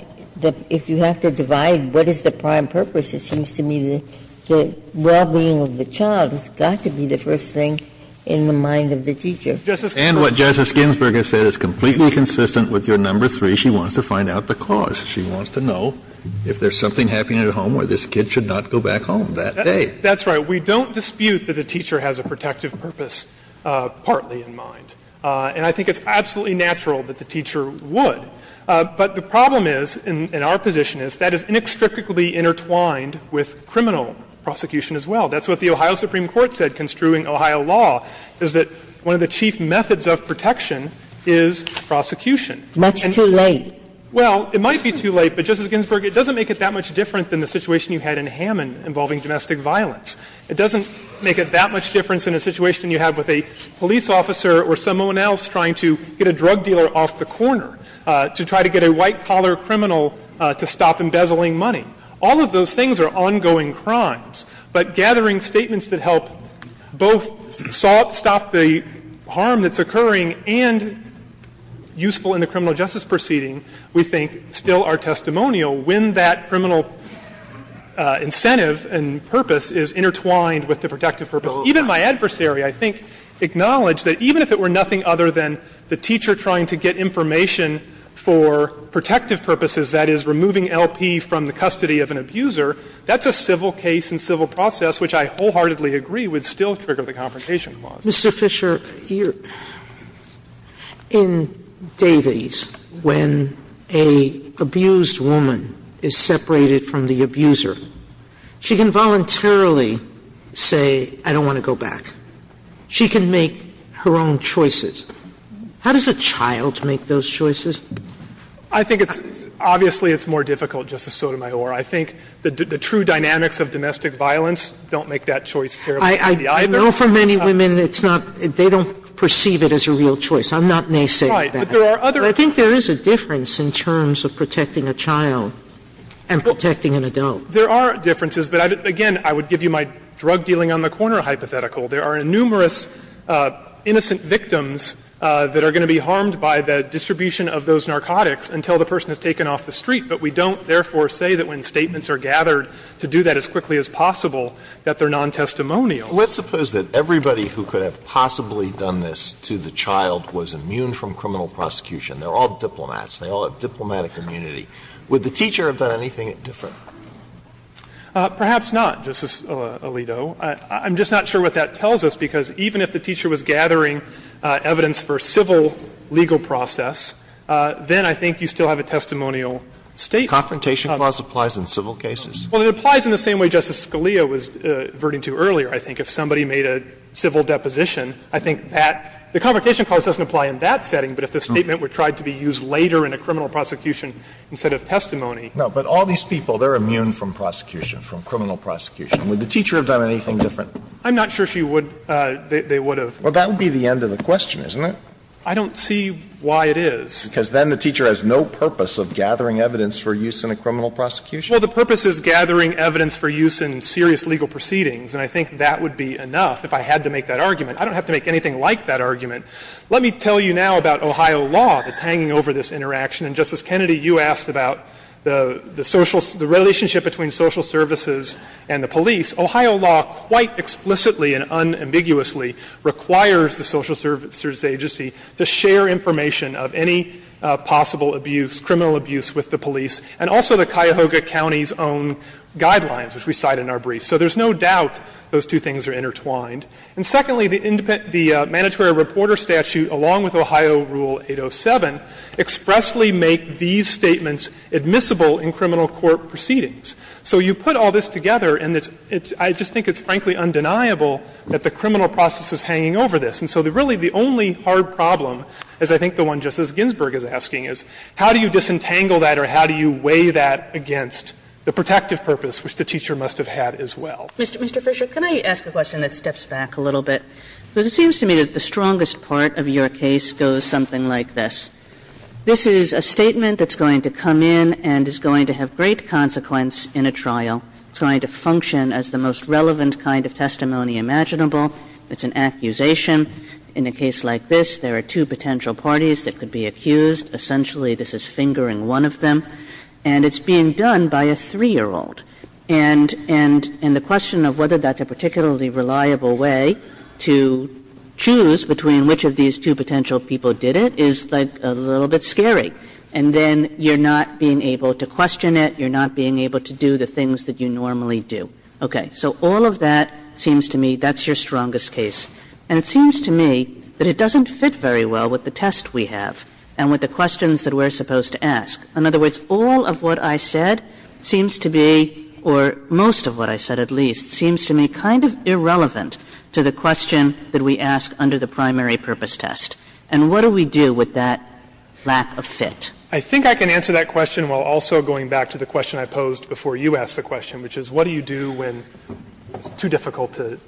if you have to divide what is the prime purpose, it seems to me that the well-being of the child has got to be the first thing in the mind of the teacher. And what Justice Ginsburg has said is completely consistent with your number three. She wants to find out the cause. She wants to know if there's something happening at home where this kid should not go back home that day. That's right. We don't dispute that the teacher has a protective purpose partly in mind. And I think it's absolutely natural that the teacher would. But the problem is, in our position, is that is inextricably intertwined with criminal prosecution as well. That's what the Ohio Supreme Court said construing Ohio law, is that one of the chief methods of protection is prosecution. That's too late. Well, it might be too late, but Justice Ginsburg, it doesn't make it that much different than the situation you had in Hammond involving domestic violence. It doesn't make it that much different than a situation you have with a police officer or someone else trying to get a drug dealer off the corner to try to get a white-collar criminal to stop embezzling money. All of those things are ongoing crimes. But gathering statements that help both stop the harm that's occurring and useful in the criminal justice proceeding, we think, still are testimonial when that criminal incentive and purpose is intertwined with the protective purpose. Even my adversary, I think, acknowledged that even if it were nothing other than the teacher trying to get information for protective purposes, that is, removing LP from the custody of an abuser, that's a civil case and civil process which I wholeheartedly agree would still trigger the Confrontation Clause. Mr. Fisher, in Davies, when an abused woman is separated from the abuser, she can voluntarily say, I don't want to go back. She can make her own choices. How does a child make those choices? Fisher, I think it's – obviously, it's more difficult, Justice Sotomayor. I think the true dynamics of domestic violence don't make that choice terribly Sotomayor, I know for many women it's not – they don't perceive it as a real choice. I'm not naysaying that. Fisher, right. But there are other – Sotomayor, but I think there is a difference in terms of protecting a child and protecting an adult. Fisher, there are differences, but again, I would give you my drug-dealing-on-the-corner hypothetical. There are numerous innocent victims that are going to be harmed by the distribution of those narcotics until the person has taken off the street. But we don't, therefore, say that when statements are gathered to do that as quickly as possible, that they're nontestimonial. Alito, let's suppose that everybody who could have possibly done this to the child was immune from criminal prosecution. They're all diplomats. They all have diplomatic immunity. Would the teacher have done anything different? Perhaps not, Justice Alito. I'm just not sure what that tells us, because even if the teacher was gathering evidence for a civil legal process, then I think you still have a testimonial statement. Confrontation clause applies in civil cases. Well, it applies in the same way Justice Scalia was averting to earlier, I think. If somebody made a civil deposition, I think that the confrontation clause doesn't apply in that setting, but if the statement were tried to be used later in a criminal prosecution instead of testimony. No, but all these people, they're immune from prosecution, from criminal prosecution. Would the teacher have done anything different? I'm not sure she would. They would have. Well, that would be the end of the question, isn't it? I don't see why it is. Because then the teacher has no purpose of gathering evidence for use in a criminal prosecution? Well, the purpose is gathering evidence for use in serious legal proceedings, and I think that would be enough if I had to make that argument. I don't have to make anything like that argument. Let me tell you now about Ohio law that's hanging over this interaction. And, Justice Kennedy, you asked about the social ‑‑ the relationship between social services and the police. Ohio law quite explicitly and unambiguously requires the social services agency to share information of any possible abuse, criminal abuse with the police, and also the Cuyahoga County's own guidelines, which we cite in our brief. So there's no doubt those two things are intertwined. And secondly, the mandatory reporter statute, along with Ohio Rule 807, expressly make these statements admissible in criminal court proceedings. So you put all this together, and it's ‑‑ I just think it's frankly undeniable that the criminal process is hanging over this. And so really the only hard problem, as I think the one Justice Ginsburg is asking, is how do you disentangle that or how do you weigh that against the protective purpose which the teacher must have had as well? Mr. Fisher, can I ask a question that steps back a little bit? Because it seems to me that the strongest part of your case goes something like this. This is a statement that's going to come in and is going to have great consequence in a trial. It's going to function as the most relevant kind of testimony imaginable. It's an accusation. In a case like this, there are two potential parties that could be accused. Essentially, this is fingering one of them. And it's being done by a 3-year-old. And the question of whether that's a particularly reliable way to choose between which of these two potential people did it is like a little bit scary. And then you're not being able to question it. You're not being able to do the things that you normally do. Okay. So all of that seems to me that's your strongest case. And it seems to me that it doesn't fit very well with the test we have and with the questions that we're supposed to ask. In other words, all of what I said seems to be, or most of what I said at least, seems to me kind of irrelevant to the question that we ask under the primary purpose test. And what do we do with that lack of fit? I think I can answer that question while also going back to the question I posed before you asked the question, which is what do you do when it's too difficult to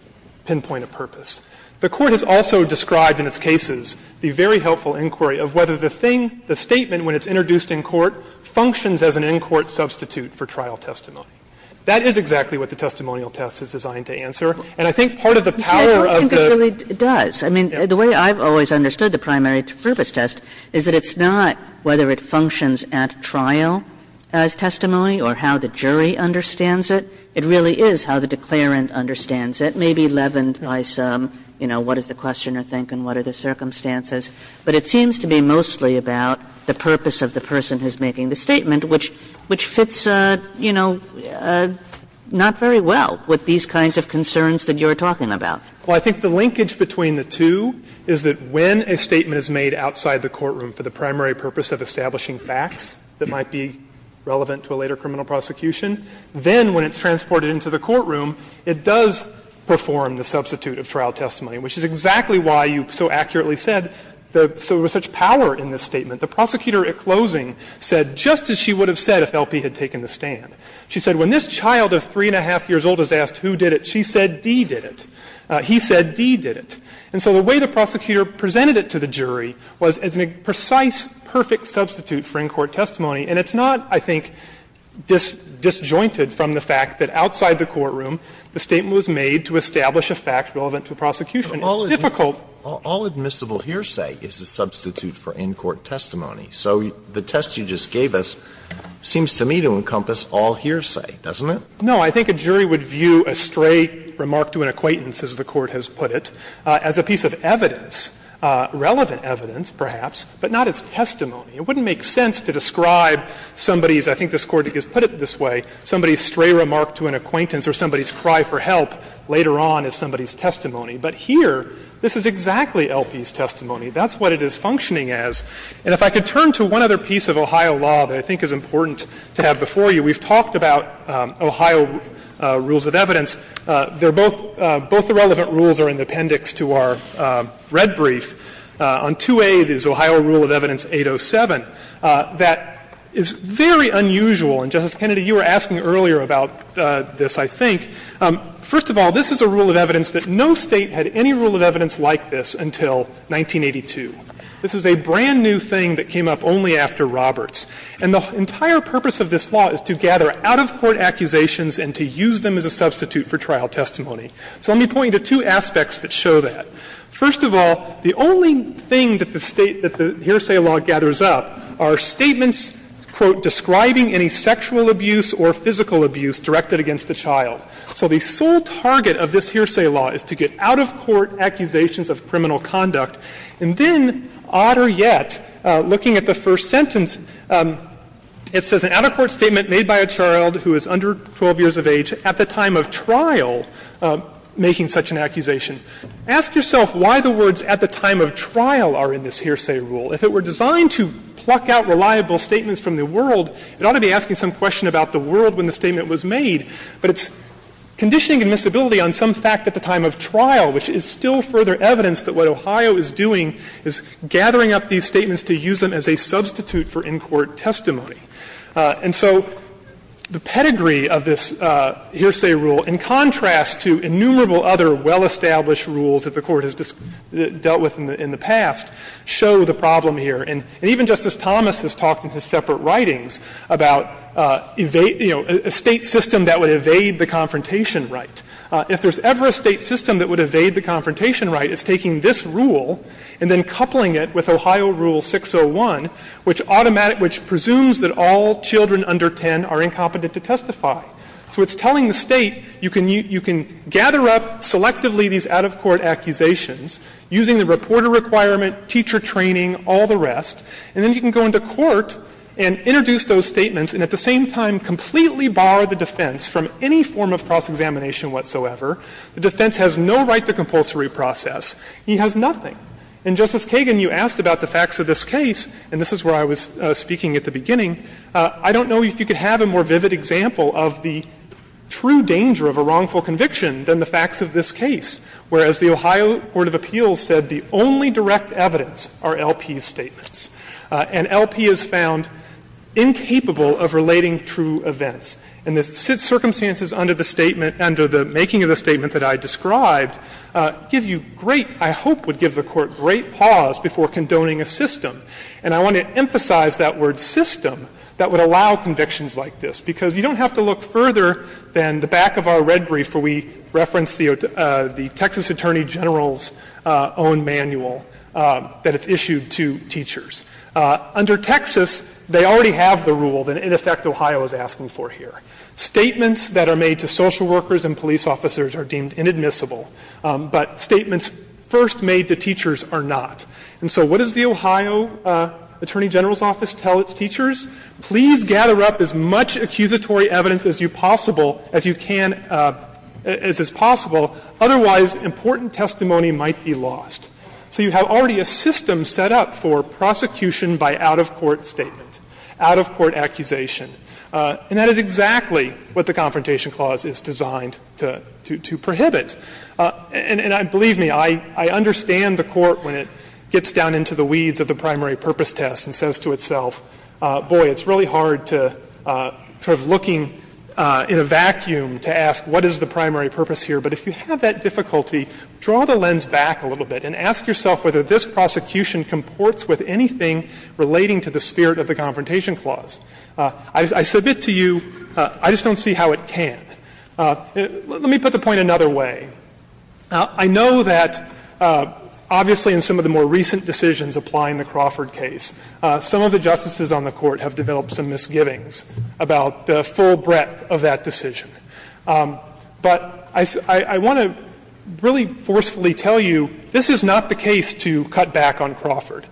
pinpoint a purpose? The Court has also described in its cases the very helpful inquiry of whether the thing, the statement when it's introduced in court functions as an in-court substitute for trial testimony. That is exactly what the testimonial test is designed to answer. And I think part of the power of the ---- Kagan. I don't think it really does. I mean, the way I've always understood the primary purpose test is that it's not whether it functions at trial as testimony or how the jury understands it. It really is how the declarant understands it, maybe leavened by some, you know, what does the questioner think and what are the circumstances. But it seems to be mostly about the purpose of the person who's making the statement, which fits, you know, not very well with these kinds of concerns that you're talking about. Well, I think the linkage between the two is that when a statement is made outside the courtroom for the primary purpose of establishing facts that might be relevant to a later criminal prosecution, then when it's transported into the courtroom, it does perform the substitute of trial testimony, which is exactly why you so accurately said there was such power in this statement. The prosecutor at closing said just as she would have said if LP had taken the stand. She said when this child of 3-1⁄2 years old is asked who did it, she said D did it. He said D did it. And so the way the prosecutor presented it to the jury was as a precise, perfect substitute for in-court testimony. And it's not, I think, disjointed from the fact that outside the courtroom the statement was made to establish a fact relevant to prosecution. It's difficult ---- So the test you just gave us seems to me to encompass all hearsay, doesn't it? No. I think a jury would view a stray remark to an acquaintance, as the Court has put it, as a piece of evidence, relevant evidence perhaps, but not as testimony. It wouldn't make sense to describe somebody's, I think this Court has put it this way, somebody's stray remark to an acquaintance or somebody's cry for help later on as somebody's testimony. But here, this is exactly LP's testimony. That's what it is functioning as. And if I could turn to one other piece of Ohio law that I think is important to have before you. We've talked about Ohio rules of evidence. They're both, both the relevant rules are in the appendix to our red brief. On 2A, it is Ohio Rule of Evidence 807. That is very unusual, and, Justice Kennedy, you were asking earlier about this, I think. First of all, this is a rule of evidence that no State had any rule of evidence like this until 1982. This is a brand new thing that came up only after Roberts. And the entire purpose of this law is to gather out-of-court accusations and to use them as a substitute for trial testimony. So let me point you to two aspects that show that. First of all, the only thing that the state, that the hearsay law gathers up are statements, quote, describing any sexual abuse or physical abuse directed against the child. So the sole target of this hearsay law is to get out-of-court accusations of criminal conduct. And then, odder yet, looking at the first sentence, it says an out-of-court statement made by a child who is under 12 years of age at the time of trial making such an accusation. Ask yourself why the words at the time of trial are in this hearsay rule. If it were designed to pluck out reliable statements from the world, it ought to be asking some question about the world when the statement was made. But it's conditioning admissibility on some fact at the time of trial, which is still further evidence that what Ohio is doing is gathering up these statements to use them as a substitute for in-court testimony. And so the pedigree of this hearsay rule, in contrast to innumerable other well-established rules that the Court has dealt with in the past, show the problem here. And even Justice Thomas has talked in his separate writings about, you know, a state system that would evade the confrontation right. If there's ever a state system that would evade the confrontation right, it's taking this rule and then coupling it with Ohio Rule 601, which automatic — which presumes that all children under 10 are incompetent to testify. So it's telling the State, you can — you can gather up selectively these out-of-court accusations using the reporter requirement, teacher training, all the rest, and then you can go into court and introduce those statements and at the same time completely bar the defense from any form of cross-examination whatsoever. The defense has no right to compulsory process. He has nothing. And, Justice Kagan, you asked about the facts of this case, and this is where I was speaking at the beginning. I don't know if you could have a more vivid example of the true danger of a wrongful conviction than the facts of this case, whereas the Ohio court of appeals said the only direct evidence are LP's statements. And LP is found incapable of relating true events. And the circumstances under the statement — under the making of the statement that I described give you great — I hope would give the Court great pause before condoning a system. And I want to emphasize that word system that would allow convictions like this, because you don't have to look further than the back of our red brief where we reference the Texas Attorney General's own manual that is issued to teachers. Under Texas, they already have the rule that, in effect, Ohio is asking for here. Statements that are made to social workers and police officers are deemed inadmissible. But statements first made to teachers are not. And so what does the Ohio Attorney General's office tell its teachers? Please gather up as much accusatory evidence as you possible — as you can — as is possible. Otherwise, important testimony might be lost. So you have already a system set up for prosecution by out-of-court statement, out-of-court accusation. And that is exactly what the Confrontation Clause is designed to — to prohibit. And believe me, I understand the Court, when it gets down into the weeds of the primary purpose test, and says to itself, boy, it's really hard to — sort of looking in a vacuum to ask what is the primary purpose here. But if you have that difficulty, draw the lens back a little bit and ask yourself whether this prosecution comports with anything relating to the spirit of the Confrontation Clause. I submit to you, I just don't see how it can. Let me put the point another way. I know that, obviously, in some of the more recent decisions applying the Crawford case, some of the justices on the Court have developed some misgivings about the full breadth of that decision. But I want to really forcefully tell you, this is not the case to cut back on Crawford.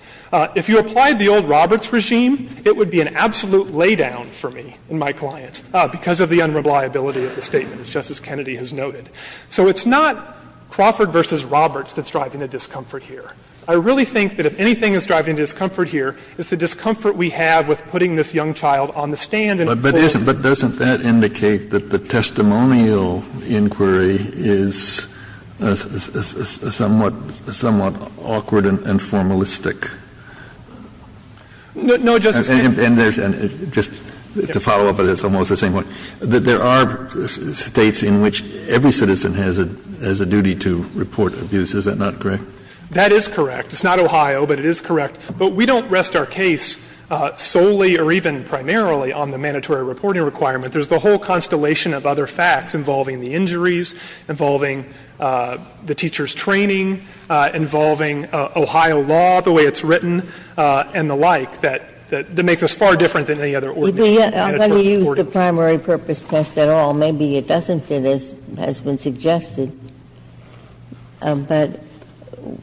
If you applied the old Roberts regime, it would be an absolute laydown for me and my client because of the unreliability of the statement, as Justice Kennedy has noted. So it's not Crawford v. Roberts that's driving the discomfort here. I really think that if anything is driving the discomfort here, it's the discomfort we have with putting this young child on the stand and — Kennedy. But doesn't that indicate that the testimonial inquiry is somewhat awkward and formalistic? No, Justice Kennedy. And there's — just to follow up on this, almost the same way, that there are States in which every citizen has a — has a duty to report abuse. Is that not correct? That is correct. It's not Ohio, but it is correct. But we don't rest our case solely or even primarily on the mandatory reporting requirement. There's the whole constellation of other facts involving the injuries, involving the teacher's training, involving Ohio law, the way it's written, and the like, that makes us far different than any other ordination. I'm going to use the primary purpose test at all. Maybe it doesn't fit as has been suggested. But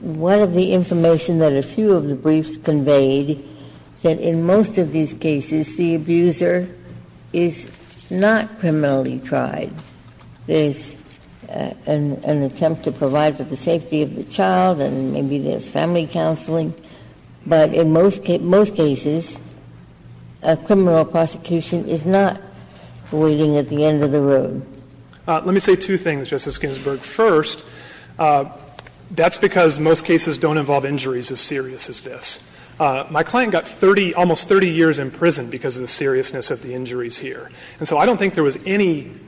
one of the information that a few of the briefs conveyed is that in most of these cases, the abuser is not criminally tried. There's an attempt to provide for the safety of the child, and maybe there's family counseling, but in most cases, a criminal prosecution is not waiting at the end of the road. Let me say two things, Justice Ginsburg. First, that's because most cases don't involve injuries as serious as this. My client got 30 — almost 30 years in prison because of the seriousness of the injuries here. And so I don't think there was any —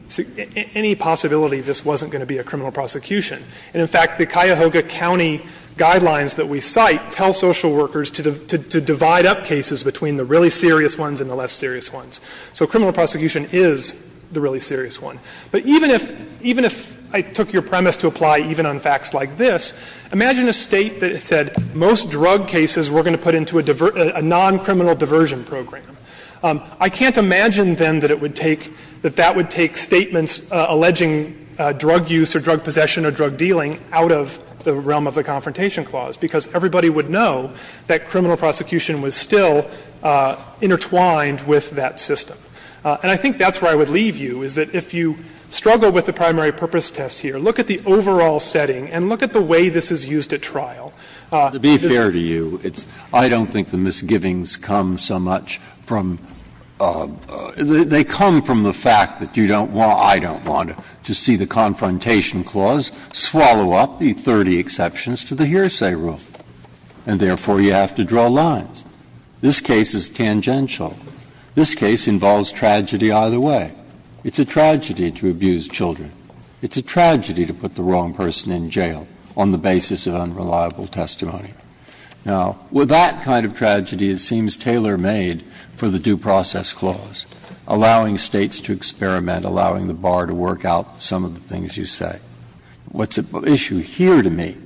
any possibility this wasn't going to be a criminal prosecution. And in fact, the Cuyahoga County guidelines that we cite tell social workers to divide up cases between the really serious ones and the less serious ones. So criminal prosecution is the really serious one. But even if — even if I took your premise to apply even on facts like this, imagine a State that said most drug cases we're going to put into a non-criminal diversion program. I can't imagine, then, that it would take — that that would take statements alleging drug use or drug possession or drug dealing out of the realm of the Confrontation Clause, because everybody would know that criminal prosecution was still intertwined with that system. And I think that's where I would leave you, is that if you struggle with the primary purpose test here, look at the overall setting and look at the way this is used at trial. Breyer. To be fair to you, it's — I don't think the misgivings come so much from — they come from the fact that you don't want — I don't want to see the Confrontation Clause swallow up the 30 exceptions to the hearsay rule, and therefore you have to draw lines. This case is tangential. This case involves tragedy either way. It's a tragedy to abuse children. It's a tragedy to put the wrong person in jail on the basis of unreliable testimony. Now, with that kind of tragedy, it seems tailor-made for the Due Process Clause, allowing States to experiment, allowing the bar to work out some of the things you say. What's at issue here to me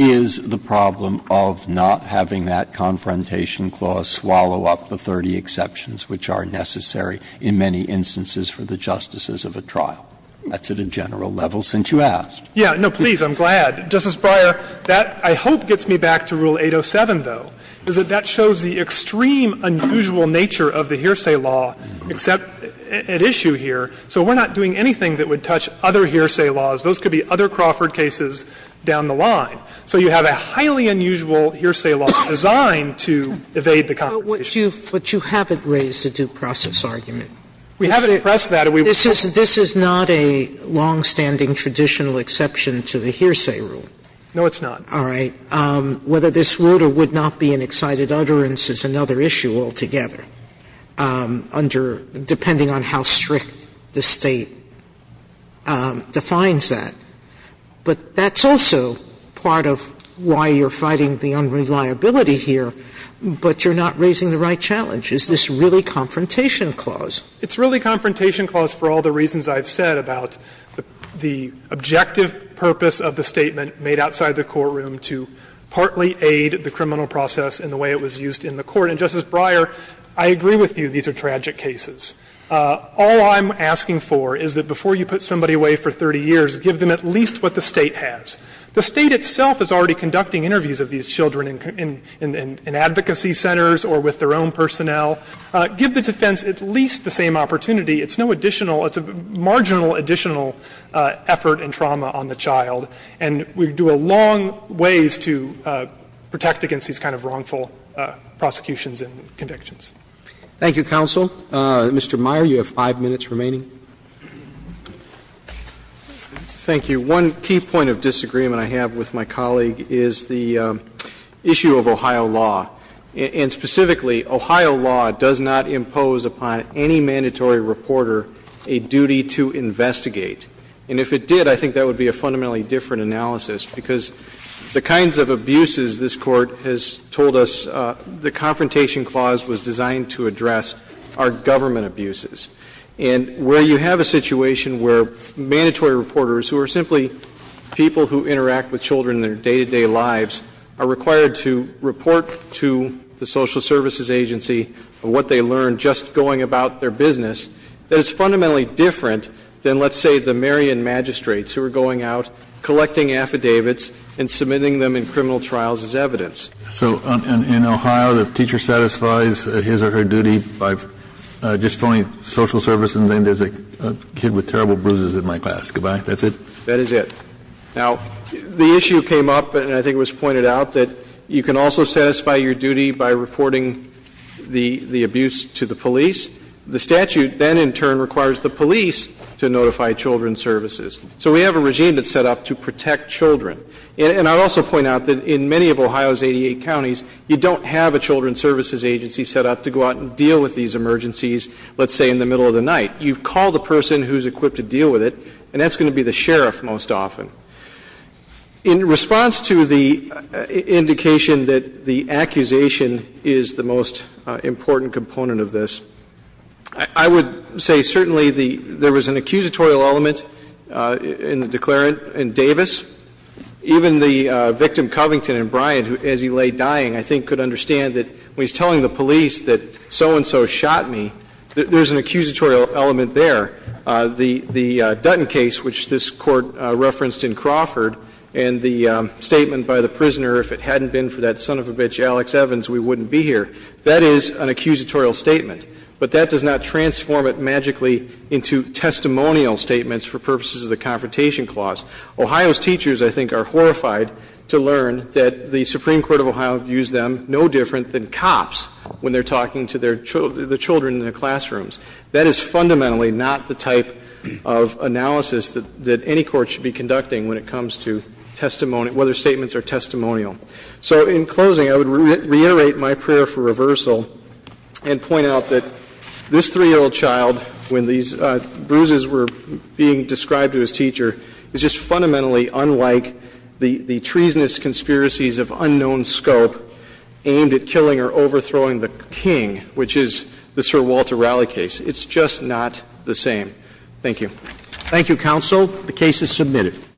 is the problem of not having that Confrontation Clause swallow up the 30 exceptions which are necessary in many instances for the justices of a trial. That's at a general level, since you asked. Yeah. No, please, I'm glad. Justice Breyer, that, I hope, gets me back to Rule 807, though, is that that shows the extreme, unusual nature of the hearsay law at issue here. So we're not doing anything that would touch other hearsay laws. Those could be other Crawford cases down the line. So you have a highly unusual hearsay law designed to evade the Confrontation Clause. But you haven't raised the due process argument. We haven't expressed that. This is not a longstanding traditional exception to the hearsay rule. No, it's not. All right. Whether this would or would not be an excited utterance is another issue altogether, under – depending on how strict the State defines that. But that's also part of why you're fighting the unreliability here. But you're not raising the right challenge. Is this really Confrontation Clause? It's really Confrontation Clause for all the reasons I've said about the objective purpose of the statement made outside the courtroom to partly aid the criminal process in the way it was used in the Court. And, Justice Breyer, I agree with you these are tragic cases. All I'm asking for is that before you put somebody away for 30 years, give them at least what the State has. The State itself is already conducting interviews of these children in advocacy centers or with their own personnel. Give the defense at least the same opportunity. It's no additional – it's a marginal additional effort and trauma on the child. And we do a long ways to protect against these kind of wrongful prosecutions and convictions. Roberts. Thank you, counsel. Mr. Meyer, you have five minutes remaining. Thank you. One key point of disagreement I have with my colleague is the issue of Ohio law. And specifically, Ohio law does not impose upon any mandatory reporter a duty to investigate. And if it did, I think that would be a fundamentally different analysis, because the kinds of abuses this Court has told us the Confrontation Clause was designed to address are government abuses. And where you have a situation where mandatory reporters, who are simply people who interact with children in their day-to-day lives, are required to report to the social services agency of what they learned just going about their business, that is fundamentally different than, let's say, the Marion magistrates who are going out collecting affidavits and submitting them in criminal trials as evidence. So in Ohio, the teacher satisfies his or her duty by just phoning social services and saying there's a kid with terrible bruises in my class. Goodbye. That's it? That is it. Now, the issue came up, and I think it was pointed out, that you can also satisfy your duty by reporting the abuse to the police. The statute then, in turn, requires the police to notify children's services. So we have a regime that's set up to protect children. And I'd also point out that in many of Ohio's 88 counties, you don't have a children's services agency set up to go out and deal with these emergencies, let's say, in the middle of the night. You call the person who's equipped to deal with it, and that's going to be the sheriff most often. In response to the indication that the accusation is the most important component of this, I would say certainly there was an accusatorial element in the declarant in Davis. Even the victim, Covington and Bryant, as he lay dying, I think could understand that when he's telling the police that so-and-so shot me, there's an accusatorial element there. The Dutton case, which this Court referenced in Crawford, and the statement by the prisoner, if it hadn't been for that son of a bitch, Alex Evans, we wouldn't be here, that is an accusatorial statement. But that does not transform it magically into testimonial statements for purposes of the Confrontation Clause. Ohio's teachers, I think, are horrified to learn that the Supreme Court of Ohio views them no different than cops when they're talking to their children in their classrooms. That is fundamentally not the type of analysis that any court should be conducting when it comes to testimony, whether statements are testimonial. So in closing, I would reiterate my prayer for reversal and point out that this 3-year-old child, when these bruises were being described to his teacher, is just fundamentally unlike the treasonous conspiracies of unknown scope aimed at killing or overthrowing the king, which is the Sir Walter Raleigh case. It's just not the same. Thank you. Thank you, counsel. The case is submitted.